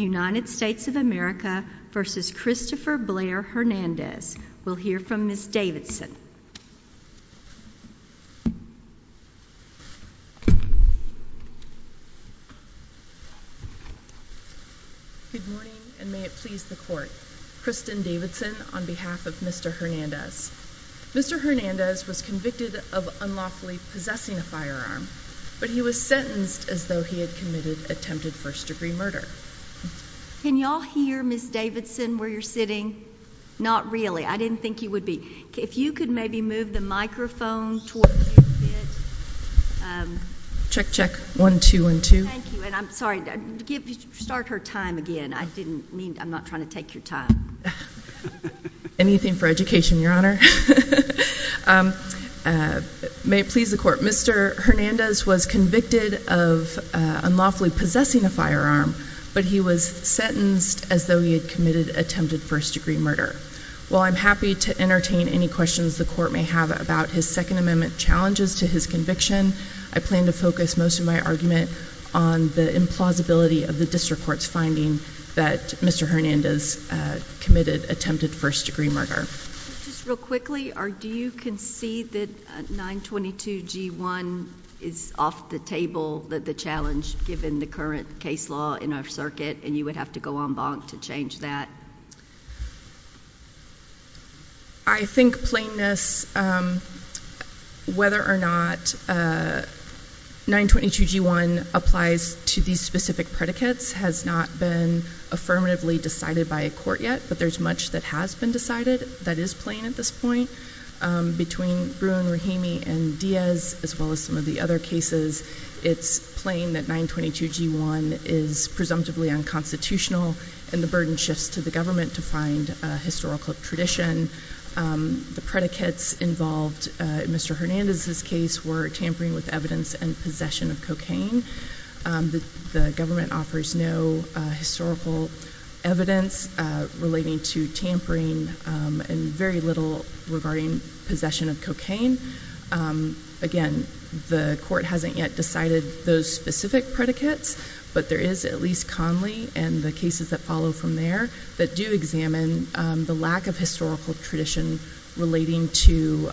United States of America v. Christopher Blair Hernandez. We'll hear from Ms. Davidson. Good morning and may it please the court. Kristen Davidson on behalf of Mr. Hernandez. Mr. Hernandez was convicted of unlawfully possessing a firearm, but he was sentenced as though he had committed attempted first degree murder. Can y'all hear Ms. Davidson where you're sitting? Not really. I didn't think you would be. If you could maybe move the microphone towards you a bit. Check, check. One, two, one, two. Thank you and I'm sorry. Start her time again. I didn't mean, I'm not trying to take your time. Anything for education, your honor. May it please the court. Mr. Hernandez was convicted of unlawfully possessing a firearm, but he was sentenced as though he had committed attempted first degree murder. While I'm happy to entertain any questions the court may have about his second amendment challenges to his conviction, I plan to focus most of my argument on the implausibility of the district court's finding that Mr. Hernandez committed attempted first degree murder. Just real quickly, do you concede that 922 G1 is off the table, the challenge given the current case law in our circuit, and you would have to go en banc to change that? I think plainness, whether or not 922 G1 applies to these specific predicates has not been affirmatively decided by a court yet, but there's much that has been decided that is plain at this point. Between Bruin, Rahimi, and Diaz, as well as some of the other cases, it's plain that 922 G1 is presumptively unconstitutional and the burden shifts to the government to find historical tradition. The predicates involved in Mr. Hernandez's case were tampering with evidence and possession of cocaine. The government offers no historical evidence relating to tampering and very little regarding possession of cocaine. Again, the court hasn't yet decided those specific predicates, but there is at least Conley and the cases that follow from there that do examine the lack of historical tradition relating to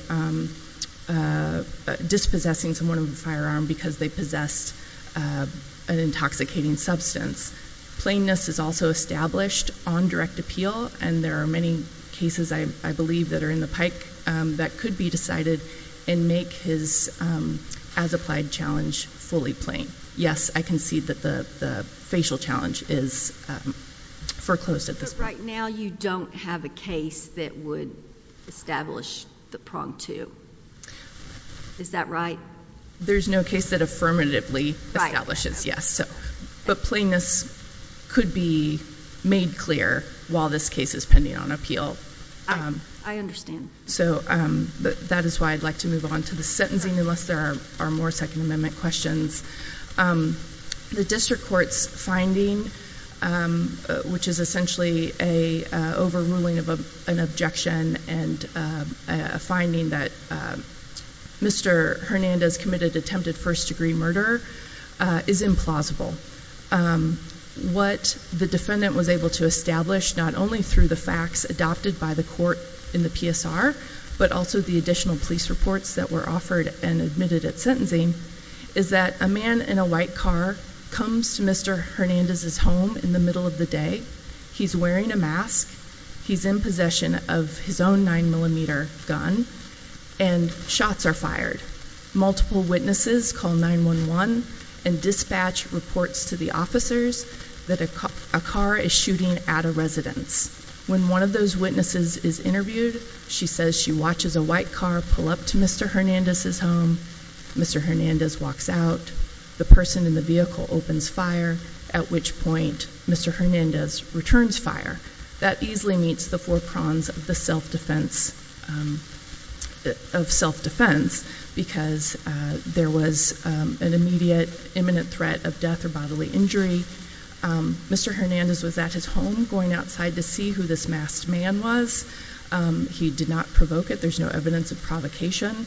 dispossessing someone of a firearm because they possessed an intoxicating substance. Plainness is also established on direct that could be decided and make his as-applied challenge fully plain. Yes, I can see that the facial challenge is foreclosed at this point. But right now you don't have a case that would establish the prong to? Is that right? There's no case that affirmatively establishes yes, but plainness could be made clear while this case is pending on appeal. I understand. So that is why I'd like to move on to the sentencing unless there are more Second Amendment questions. The district court's finding, which is essentially an overruling of an objection and a finding that Mr. Hernandez committed attempted first degree murder, is implausible. What the defendant was able to establish, not only through the facts adopted by the court in the PSR, but also the additional police reports that were offered and admitted at sentencing, is that a man in a white car comes to Mr. Hernandez's home in the middle of the day. He's wearing a mask. He's in possession of his own gun and shots are fired. Multiple witnesses call 911 and dispatch reports to the officers that a car is shooting at a residence. When one of those witnesses is interviewed, she says she watches a white car pull up to Mr. Hernandez's home. Mr. Hernandez walks out. The person in the vehicle opens fire, at which point Mr. Hernandez returns fire. That easily meets the four prongs of self-defense because there was an immediate imminent threat of death or bodily injury. Mr. Hernandez was at his home going outside to see who this masked man was. He did not provoke it. There's no evidence of provocation.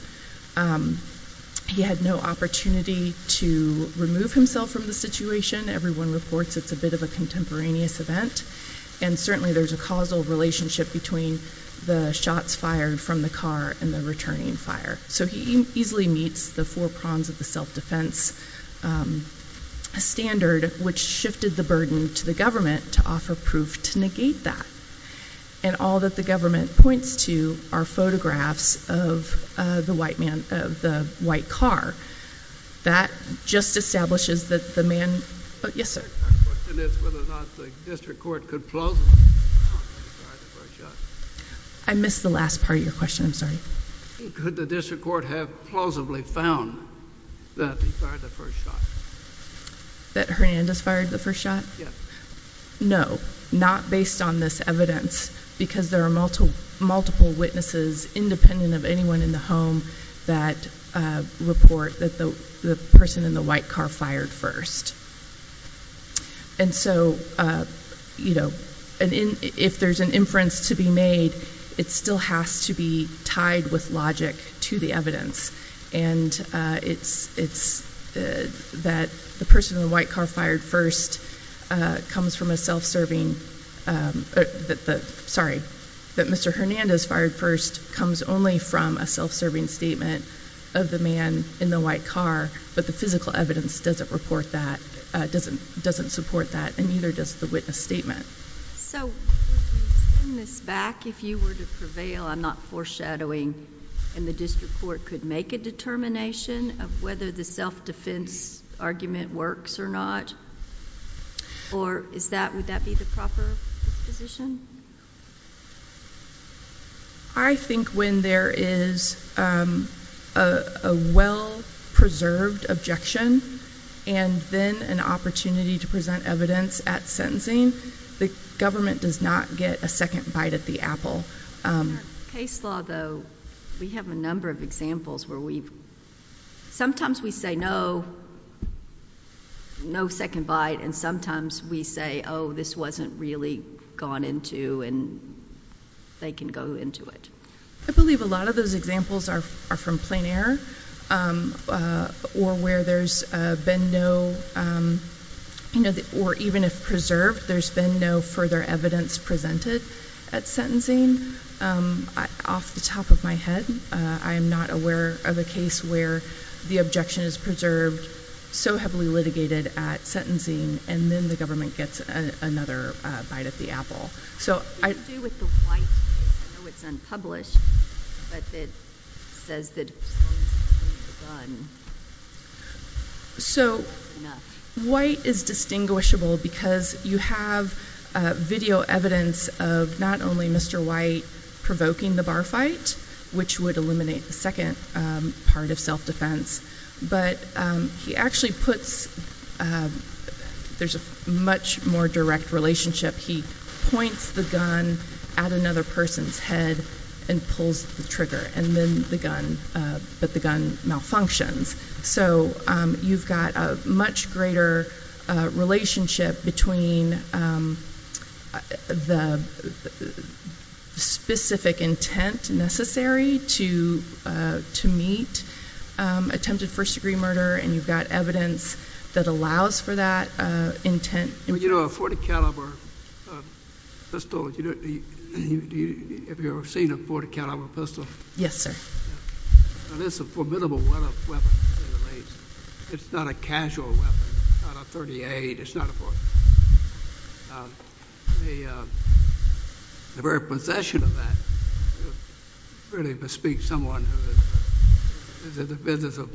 He had no opportunity to remove himself from the situation. Everyone reports it's a bit of a contemporaneous event. Certainly, there's a causal relationship between the shots fired from the car and the returning fire. He easily meets the four prongs of the self-defense standard, which shifted the burden to the government to offer proof to negate that. And all that the government points to are photographs of the white car. That just establishes that the man... Yes, sir? My question is whether or not the district court could plausibly found that he fired the first shot. I missed the last part of your question. I'm sorry. Could the district court have plausibly found that he fired the first shot? That Hernandez fired the first shot? Yeah. No, not based on this evidence because there are multiple witnesses, independent of anyone in the home, that report that the person in the white car fired first. And so, you know, if there's an inference to be made, it still has to be tied with logic to the evidence. And it's that the person in the white car fired first comes from a self-serving... Sorry, that Mr. Hernandez fired first comes only from a self-serving statement of the man in the white car, but the physical evidence doesn't report that, doesn't support that, and neither does the witness statement. So would we send this back if you were to prevail on not foreshadowing and the district court could make a determination of whether the self-defense argument works or not? Or would that be the proper position? I think when there is a well-preserved objection and then an opportunity to present evidence at sentencing, the government does not get a second bite at the apple. In our case law, though, we have a number of examples where we've... They can go into it. I believe a lot of those examples are from plein air or where there's been no... Or even if preserved, there's been no further evidence presented at sentencing. Off the top of my head, I am not aware of a case where the objection is preserved so heavily litigated at sentencing and then the government gets another bite at the apple. What do you do with the white case? I know it's unpublished, but it says that as long as he's holding the gun, that's enough. White is distinguishable because you have video evidence of not only Mr. White provoking the bar fight, which would eliminate the second part of self-defense, but he actually puts... There's a much more direct relationship. He points the gun at another person's head and pulls the trigger, but the gun malfunctions. You've got a much greater relationship between the specific intent necessary to meet attempted first-degree murder, and you've got evidence that allows for that intent. A .40 caliber pistol, have you ever seen a .40 caliber pistol? Yes, sir. It's a formidable weapon, to say the least. It's not a casual weapon. It's not a .38. It's not a .40. The very possession of that really bespeaks someone who is in the business of,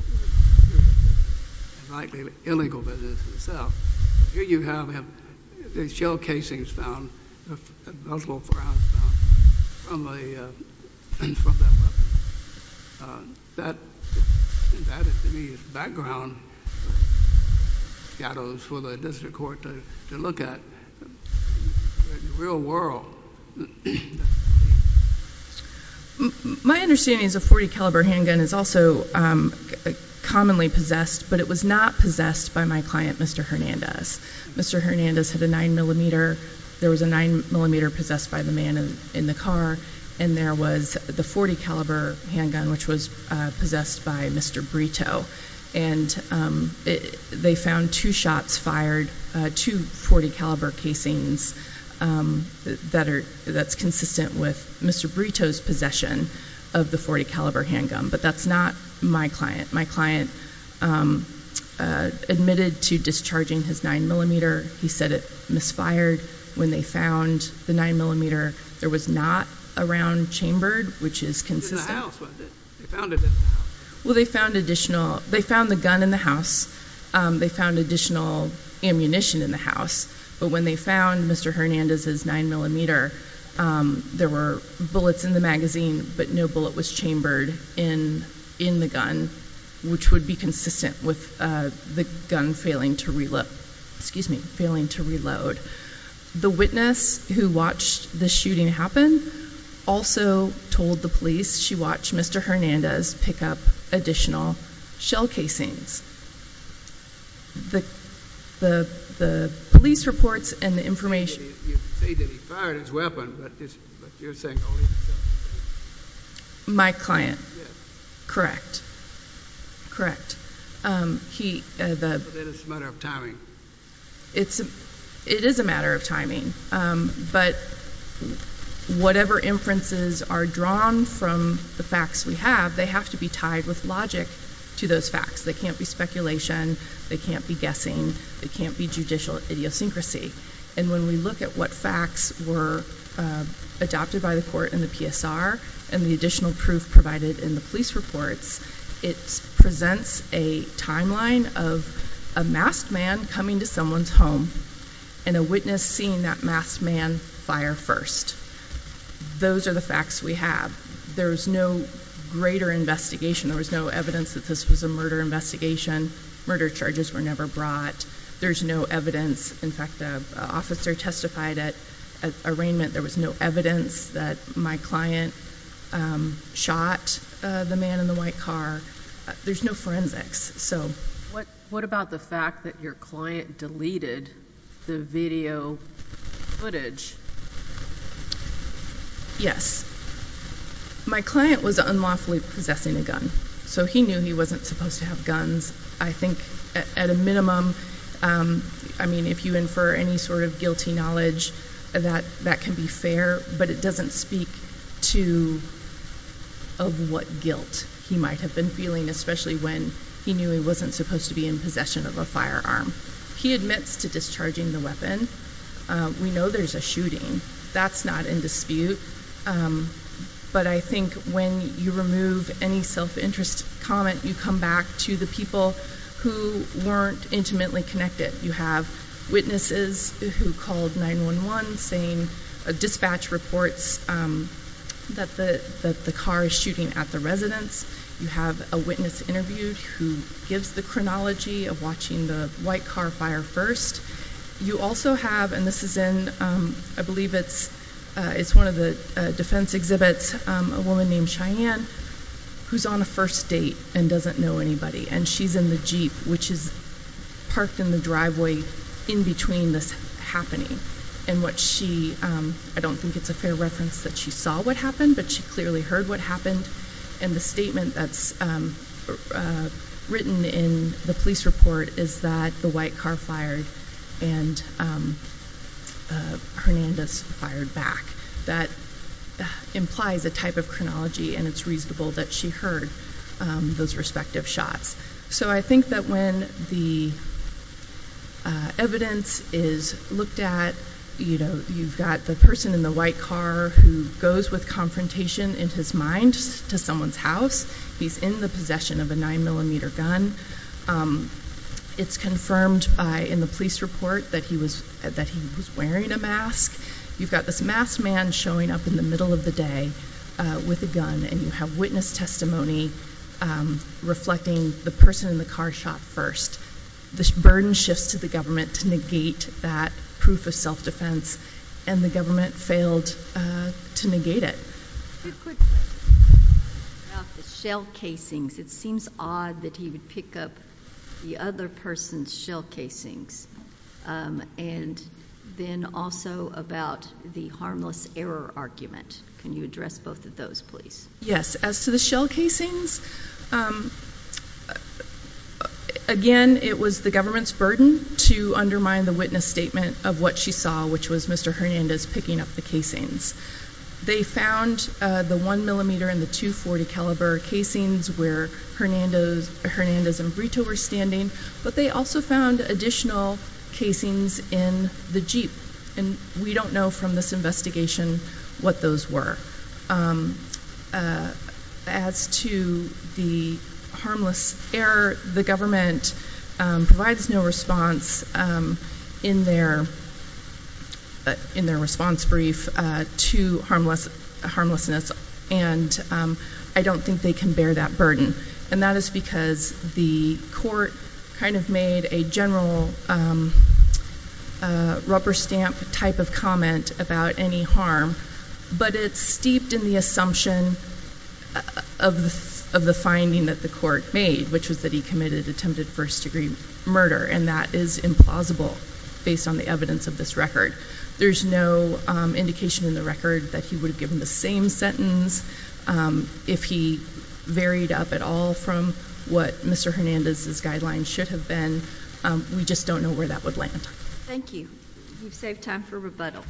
like the illegal business itself. Here you have shell casings found, multiple firearms found from that weapon. That, to me, is background shadows for the district court to look at. But in the real world... My understanding is a .40 caliber handgun is also commonly possessed, but it was not possessed by my client, Mr. Hernandez. Mr. Hernandez had a 9mm. There was a 9mm possessed by the man in the car, and there was the .40 caliber handgun, which was possessed by Mr. Brito. And they found two shots fired, two .40 caliber casings, that's consistent with Mr. Brito's possession of the .40 caliber handgun. But that's not my client. My client admitted to discharging his 9mm. He said it misfired when they found the 9mm. There was not a round chambered, which is consistent. It was in the house, wasn't it? They found it in the house. Well, they found the gun in the house. They found additional ammunition in the house. But when they found Mr. Hernandez's 9mm, there were bullets in the magazine, but no bullet was chambered in the gun, which would be consistent with the gun failing to reload. The witness who watched the shooting happen also told the police she watched Mr. Hernandez pick up additional shell casings. The police reports and the information. You say that he fired his weapon, but you're saying only the shell casings. My client. Yes. Correct. That is a matter of timing. It is a matter of timing. But whatever inferences are drawn from the facts we have, they have to be tied with logic to those facts. They can't be speculation. They can't be guessing. They can't be judicial idiosyncrasy. And when we look at what facts were adopted by the court in the PSR and the additional proof provided in the police reports, it presents a timeline of a masked man coming to someone's home and a witness seeing that masked man fire first. Those are the facts we have. There was no greater investigation. There was no evidence that this was a murder investigation. Murder charges were never brought. There's no evidence. In fact, an officer testified at arraignment. There was no evidence that my client shot the man in the white car. There's no forensics. What about the fact that your client deleted the video footage? Yes. My client was unlawfully possessing a gun, so he knew he wasn't supposed to have guns. I think at a minimum, I mean, if you infer any sort of guilty knowledge, that can be fair, but it doesn't speak to of what guilt he might have been feeling, especially when he knew he wasn't supposed to be in possession of a firearm. He admits to discharging the weapon. We know there's a shooting. That's not in dispute, but I think when you remove any self-interest comment, you come back to the people who weren't intimately connected. You have witnesses who called 911 saying dispatch reports that the car is shooting at the residence. You have a witness interviewed who gives the chronology of watching the white car fire first. You also have, and this is in, I believe it's one of the defense exhibits, a woman named Cheyenne who's on a first date and doesn't know anybody, and she's in the Jeep, which is parked in the driveway in between this happening. I don't think it's a fair reference that she saw what happened, but she clearly heard what happened, and the statement that's written in the police report is that the white car fired and Hernandez fired back. That implies a type of chronology, and it's reasonable that she heard those respective shots. So I think that when the evidence is looked at, you've got the person in the white car who goes with confrontation in his mind to someone's house. He's in the possession of a 9mm gun. It's confirmed in the police report that he was wearing a mask. You've got this masked man showing up in the middle of the day with a gun, and you have witness testimony reflecting the person in the car shot first. The burden shifts to the government to negate that proof of self-defense, and the government failed to negate it. Two quick questions about the shell casings. It seems odd that he would pick up the other person's shell casings, and then also about the harmless error argument. Can you address both of those, please? Yes. As to the shell casings, again, it was the government's burden to undermine the witness statement of what she saw, which was Mr. Hernandez picking up the casings. They found the 1mm and the .240 caliber casings where Hernandez and Brito were standing, but they also found additional casings in the Jeep, and we don't know from this investigation what those were. As to the harmless error, the government provides no response in their response brief to harmlessness, and I don't think they can bear that burden, and that is because the court kind of made a general rubber stamp type of comment about any harm, but it's steeped in the assumption of the finding that the court made, which was that he committed attempted first-degree murder, and that is implausible based on the evidence of this record. There's no indication in the record that he would have given the same sentence if he varied up at all from what Mr. Hernandez's guidelines should have been. We just don't know where that would land. Thank you. We've saved time for rebuttal.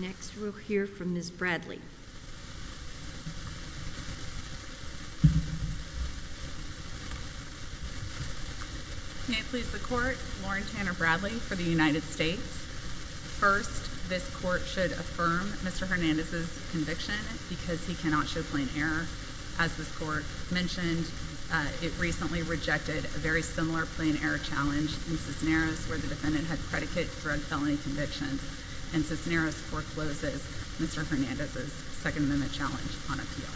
Next, we'll hear from Ms. Bradley. May it please the Court, Lauren Tanner Bradley for the United States. First, this Court should affirm Mr. Hernandez's conviction because he cannot show plain error. As this Court mentioned, it recently rejected a very similar plain error challenge in Cisneros where the defendant had predicate drug felony convictions, and Cisneros forecloses Mr. Hernandez's Second Amendment challenge on appeal.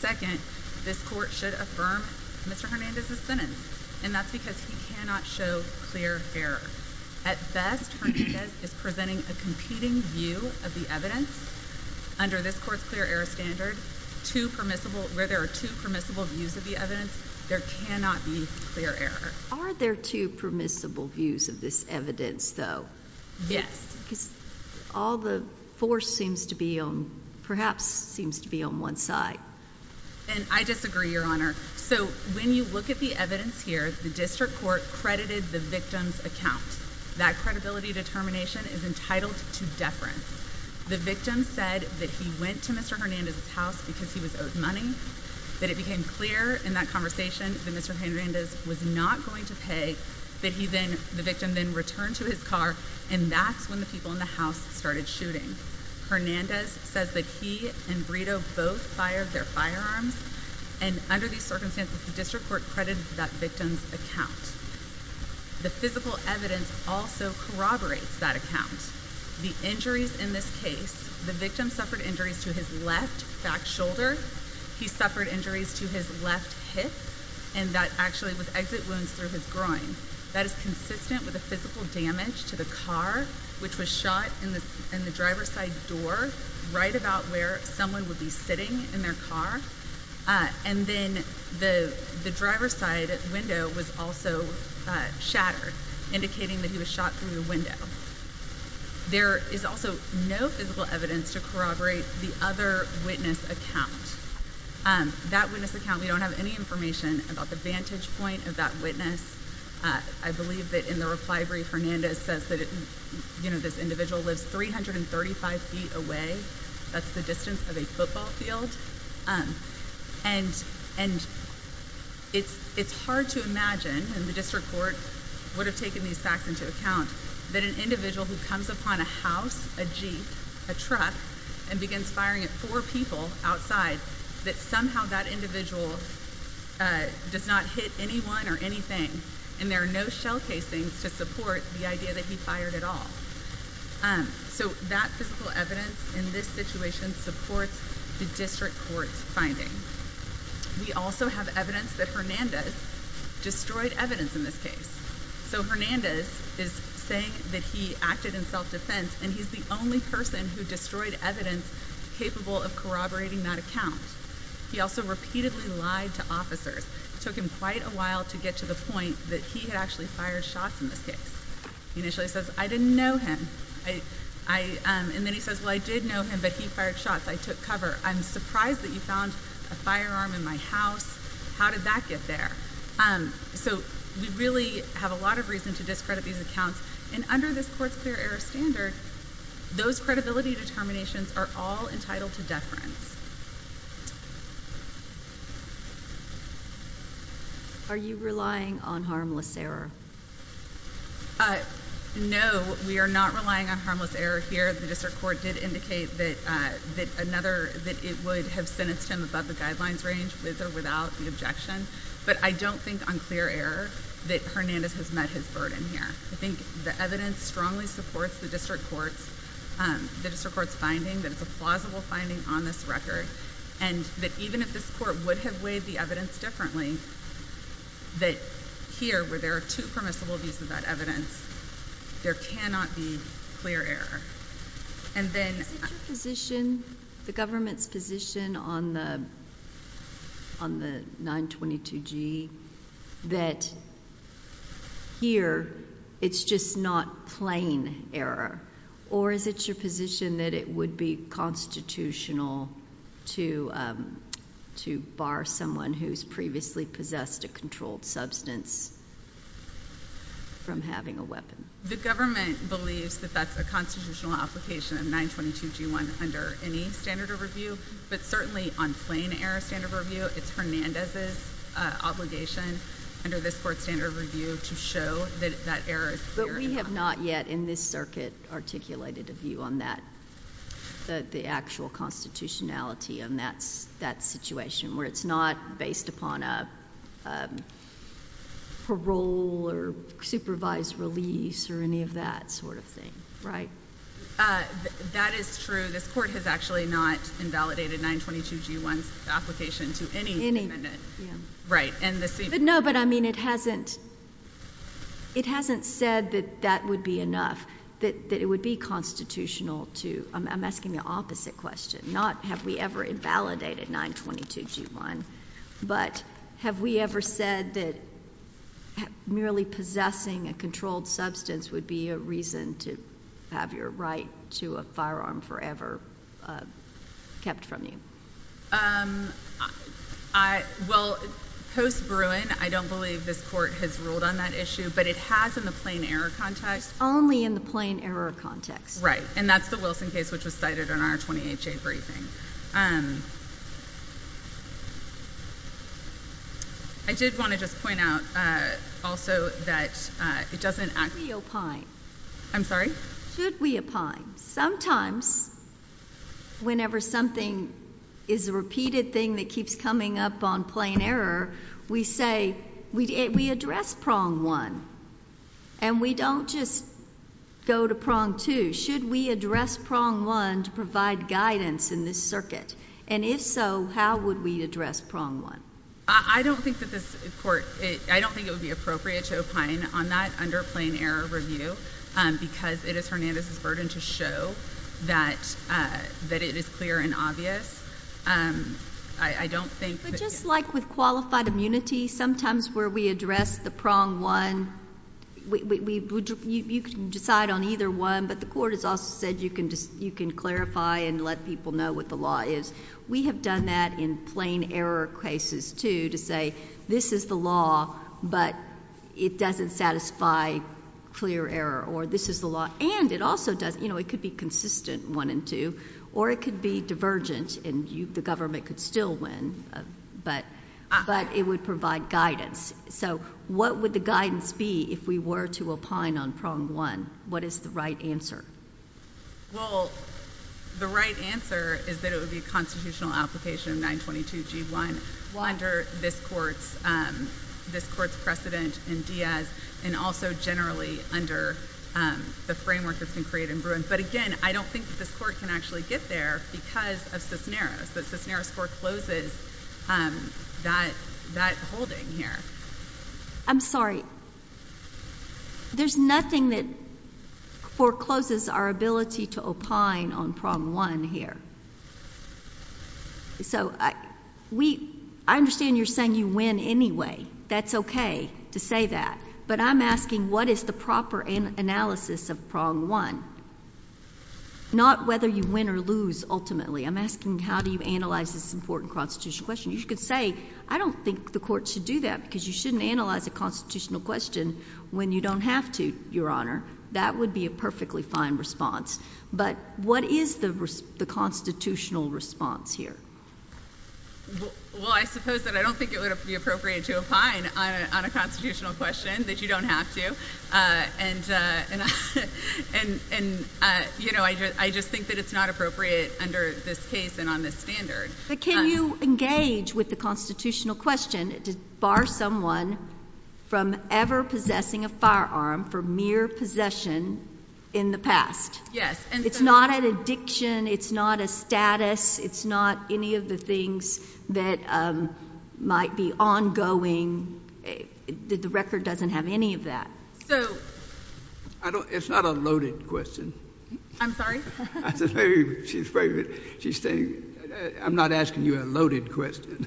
Second, this Court should affirm Mr. Hernandez's sentence, and that's because he cannot show clear error. At best, Hernandez is presenting a competing view of the evidence. Under this Court's clear error standard, where there are two permissible views of the evidence, there cannot be clear error. Are there two permissible views of this evidence, though? Yes. Because all the force perhaps seems to be on one side. And I disagree, Your Honor. So when you look at the evidence here, the District Court credited the victim's account. That credibility determination is entitled to deference. The victim said that he went to Mr. Hernandez's house because he was owed money, that it became clear in that conversation that Mr. Hernandez was not going to pay, that the victim then returned to his car, and that's when the people in the house started shooting. Hernandez says that he and Brito both fired their firearms, and under these circumstances, the District Court credited that victim's account. The physical evidence also corroborates that account. The injuries in this case, the victim suffered injuries to his left back shoulder, he suffered injuries to his left hip, and that actually was exit wounds through his groin. That is consistent with the physical damage to the car, which was shot in the driver's side door right about where someone would be sitting in their car. And then the driver's side window was also shattered, indicating that he was shot through the window. There is also no physical evidence to corroborate the other witness account. That witness account, we don't have any information about the vantage point of that witness. I believe that in the reply brief, Hernandez says that this individual lives 335 feet away. That's the distance of a football field. And it's hard to imagine, and the District Court would have taken these facts into account, that an individual who comes upon a house, a Jeep, a truck, and begins firing at four people outside, that somehow that individual does not hit anyone or anything, and there are no shell casings to support the idea that he fired at all. So that physical evidence in this situation supports the District Court's finding. We also have evidence that Hernandez destroyed evidence in this case. So Hernandez is saying that he acted in self-defense, and he's the only person who destroyed evidence capable of corroborating that account. He also repeatedly lied to officers. It took him quite a while to get to the point that he had actually fired shots in this case. He initially says, I didn't know him. And then he says, well, I did know him, but he fired shots. I took cover. I'm surprised that you found a firearm in my house. How did that get there? So we really have a lot of reason to discredit these accounts. And under this Court's clear error standard, those credibility determinations are all entitled to deference. Are you relying on harmless error? No, we are not relying on harmless error here. The District Court did indicate that it would have sentenced him above the guidelines range, with or without the objection. But I don't think on clear error that Hernandez has met his burden here. I think the evidence strongly supports the District Court's finding that it's a plausible finding on this record, and that even if this Court would have weighed the evidence differently, that here, where there are two permissible views of that evidence, there cannot be clear error. Is it your position, the government's position on the 922G, that here it's just not plain error? Or is it your position that it would be constitutional to bar someone who's previously possessed a controlled substance from having a weapon? The government believes that that's a constitutional application of 922G1 under any standard of review. But certainly on plain error standard of review, it's Hernandez's obligation under this Court's standard of review to show that that error is clear. But we have not yet in this circuit articulated a view on that, the actual constitutionality on that situation, where it's not based upon a parole or supervised release or any of that sort of thing, right? That is true. This Court has actually not invalidated 922G1's application to any defendant. No, but I mean it hasn't said that that would be enough, that it would be constitutional to. I'm asking the opposite question. Not have we ever invalidated 922G1, but have we ever said that merely possessing a controlled substance would be a reason to have your right to a firearm forever kept from you? Well, post Bruin, I don't believe this Court has ruled on that issue, but it has in the plain error context. Only in the plain error context. Right. And that's the Wilson case, which was cited in our 28-J briefing. I did want to just point out also that it doesn't act. Should we opine? I'm sorry? Should we opine? Sometimes whenever something is a repeated thing that keeps coming up on plain error, we say we address prong one, and we don't just go to prong two. Should we address prong one to provide guidance in this circuit? And if so, how would we address prong one? I don't think it would be appropriate to opine on that under plain error review because it is Hernandez's burden to show that it is clear and obvious. But just like with qualified immunity, sometimes where we address the prong one, you can decide on either one, but the Court has also said you can clarify and let people know what the law is. We have done that in plain error cases, too, to say this is the law, but it doesn't satisfy clear error, or this is the law, and it also doesn't. It could be consistent one and two, or it could be divergent, and the government could still win, but it would provide guidance. So what would the guidance be if we were to opine on prong one? What is the right answer? Well, the right answer is that it would be a constitutional application of 922G1 under this Court's precedent in Diaz and also generally under the framework that's been created in Bruin. But again, I don't think that this Court can actually get there because of Cisneros, that Cisneros forecloses that holding here. I'm sorry. There's nothing that forecloses our ability to opine on prong one here. I understand you're saying you win anyway. That's okay to say that. But I'm asking what is the proper analysis of prong one, not whether you win or lose ultimately. I'm asking how do you analyze this important constitutional question. You could say I don't think the Court should do that because you shouldn't analyze a constitutional question when you don't have to, Your Honor. That would be a perfectly fine response. But what is the constitutional response here? Well, I suppose that I don't think it would be appropriate to opine on a constitutional question that you don't have to. And, you know, I just think that it's not appropriate under this case and on this standard. But can you engage with the constitutional question to bar someone from ever possessing a firearm for mere possession in the past? Yes. It's not an addiction. It's not a status. It's not any of the things that might be ongoing. The record doesn't have any of that. It's not a loaded question. I'm sorry? I'm not asking you a loaded question.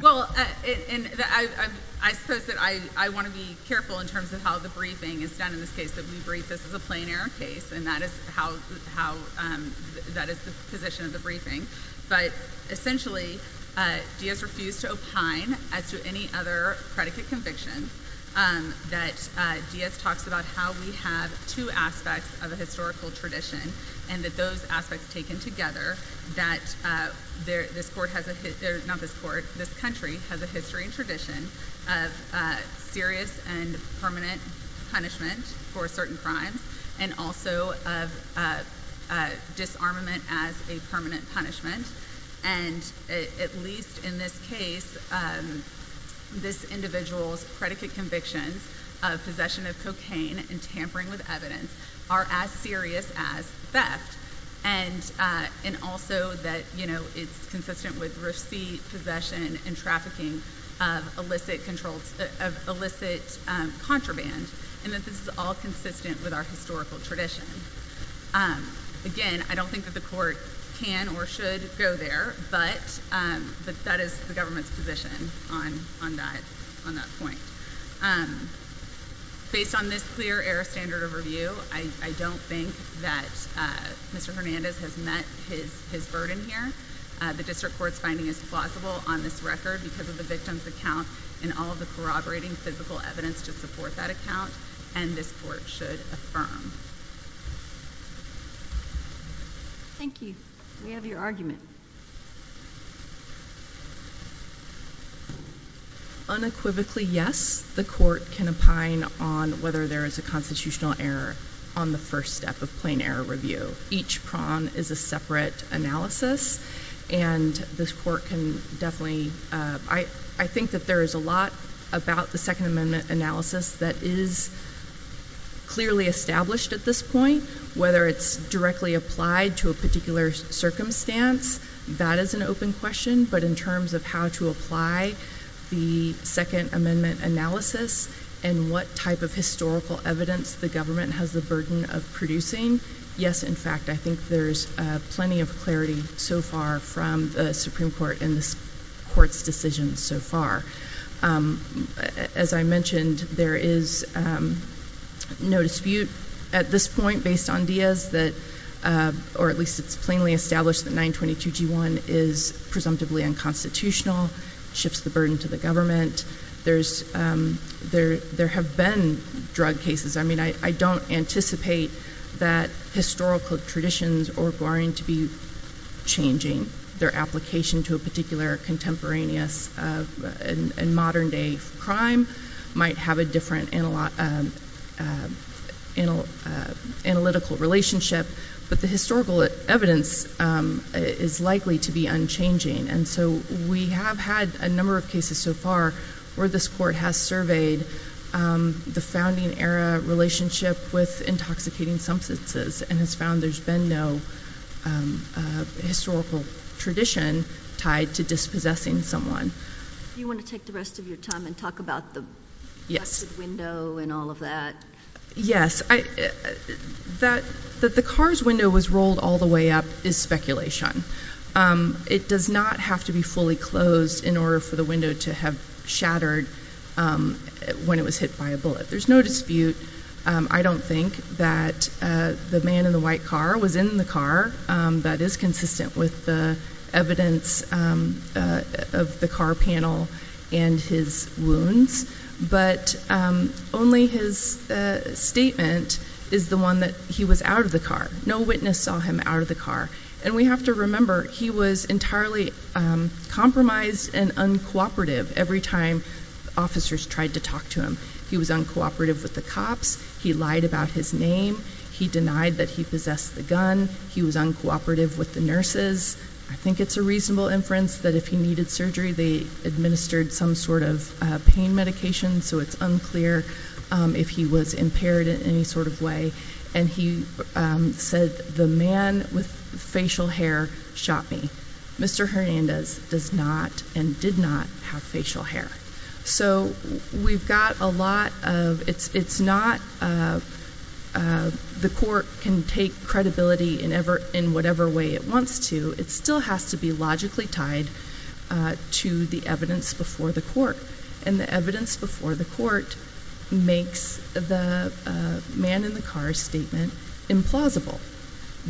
Well, I suppose that I want to be careful in terms of how the briefing is done in this case. We brief this as a plain error case, and that is the position of the briefing. But essentially, Diaz refused to opine as to any other predicate conviction that Diaz talks about how we have two aspects of a historical tradition and that those aspects taken together, that this country has a history and tradition of serious and permanent punishment for certain crimes and also of disarmament as a permanent punishment. And at least in this case, this individual's predicate convictions of possession of cocaine and tampering with evidence are as serious as theft. And also that it's consistent with receipt, possession, and trafficking of illicit contraband and that this is all consistent with our historical tradition. Again, I don't think that the court can or should go there, but that is the government's position on that point. Based on this clear error standard of review, I don't think that Mr. Hernandez has met his burden here. The district court's finding is plausible on this record because of the victim's account and all of the corroborating physical evidence to support that account, and this court should affirm. Thank you. We have your argument. Unequivocally, yes, the court can opine on whether there is a constitutional error on the first step of plain error review. Each prong is a separate analysis, and this court can definitely— I think that there is a lot about the Second Amendment analysis that is clearly established at this point, whether it's directly applied to a particular circumstance, that is an open question, but in terms of how to apply the Second Amendment analysis and what type of historical evidence the government has the burden of producing, yes, in fact, I think there's plenty of clarity so far from the Supreme Court in this court's decision so far. As I mentioned, there is no dispute at this point, based on Diaz, or at least it's plainly established that 922G1 is presumptively unconstitutional, shifts the burden to the government. There have been drug cases. I mean, I don't anticipate that historical traditions are going to be changing their application to a particular contemporaneous and modern-day crime, might have a different analytical relationship, but the historical evidence is likely to be unchanging, and so we have had a number of cases so far where this court has surveyed the founding-era relationship with intoxicating substances and has found there's been no historical tradition tied to dispossessing someone. Do you want to take the rest of your time and talk about the busted window and all of that? Yes. That the car's window was rolled all the way up is speculation. It does not have to be fully closed in order for the window to have shattered when it was hit by a bullet. There's no dispute, I don't think, that the man in the white car was in the car. That is consistent with the evidence of the car panel and his wounds, but only his statement is the one that he was out of the car. No witness saw him out of the car, and we have to remember he was entirely compromised and uncooperative every time officers tried to talk to him. He was uncooperative with the cops. He lied about his name. He denied that he possessed the gun. He was uncooperative with the nurses. I think it's a reasonable inference that if he needed surgery, they administered some sort of pain medication, so it's unclear if he was impaired in any sort of way. And he said, the man with facial hair shot me. Mr. Hernandez does not and did not have facial hair. So we've got a lot of, it's not the court can take credibility in whatever way it wants to. It still has to be logically tied to the evidence before the court, and the evidence before the court makes the man in the car statement implausible.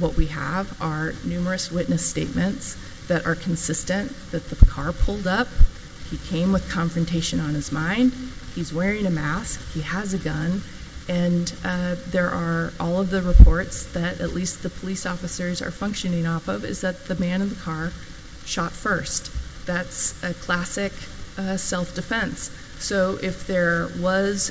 What we have are numerous witness statements that are consistent that the car pulled up, he came with confrontation on his mind, he's wearing a mask, he has a gun, and there are all of the reports that at least the police officers are functioning off of is that the man in the car shot first. That's a classic self-defense. So if there was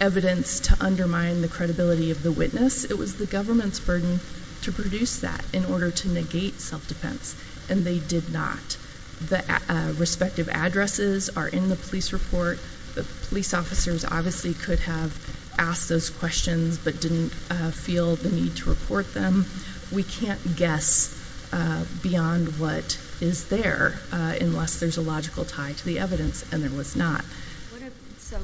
evidence to undermine the credibility of the witness, it was the government's burden to produce that in order to negate self-defense, and they did not. The respective addresses are in the police report. The police officers obviously could have asked those questions but didn't feel the need to report them. We can't guess beyond what is there unless there's a logical tie to the evidence, and there was not. So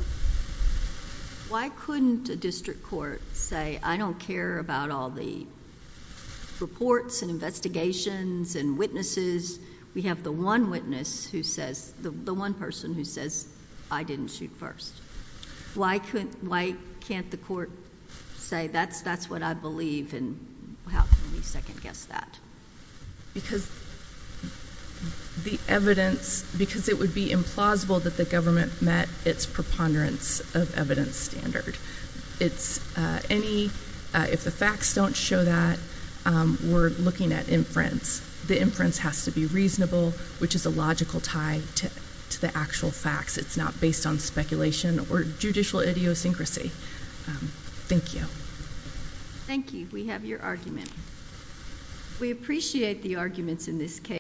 why couldn't a district court say, I don't care about all the reports and investigations and witnesses. We have the one witness who says, the one person who says, I didn't shoot first. Why can't the court say that's what I believe, and how can we second-guess that? Because the evidence, because it would be implausible that the government met its preponderance of evidence standard. If the facts don't show that, we're looking at inference. The inference has to be reasonable, which is a logical tie to the actual facts. It's not based on speculation or judicial idiosyncrasy. Thank you. Thank you. We have your argument. We appreciate the arguments in this case.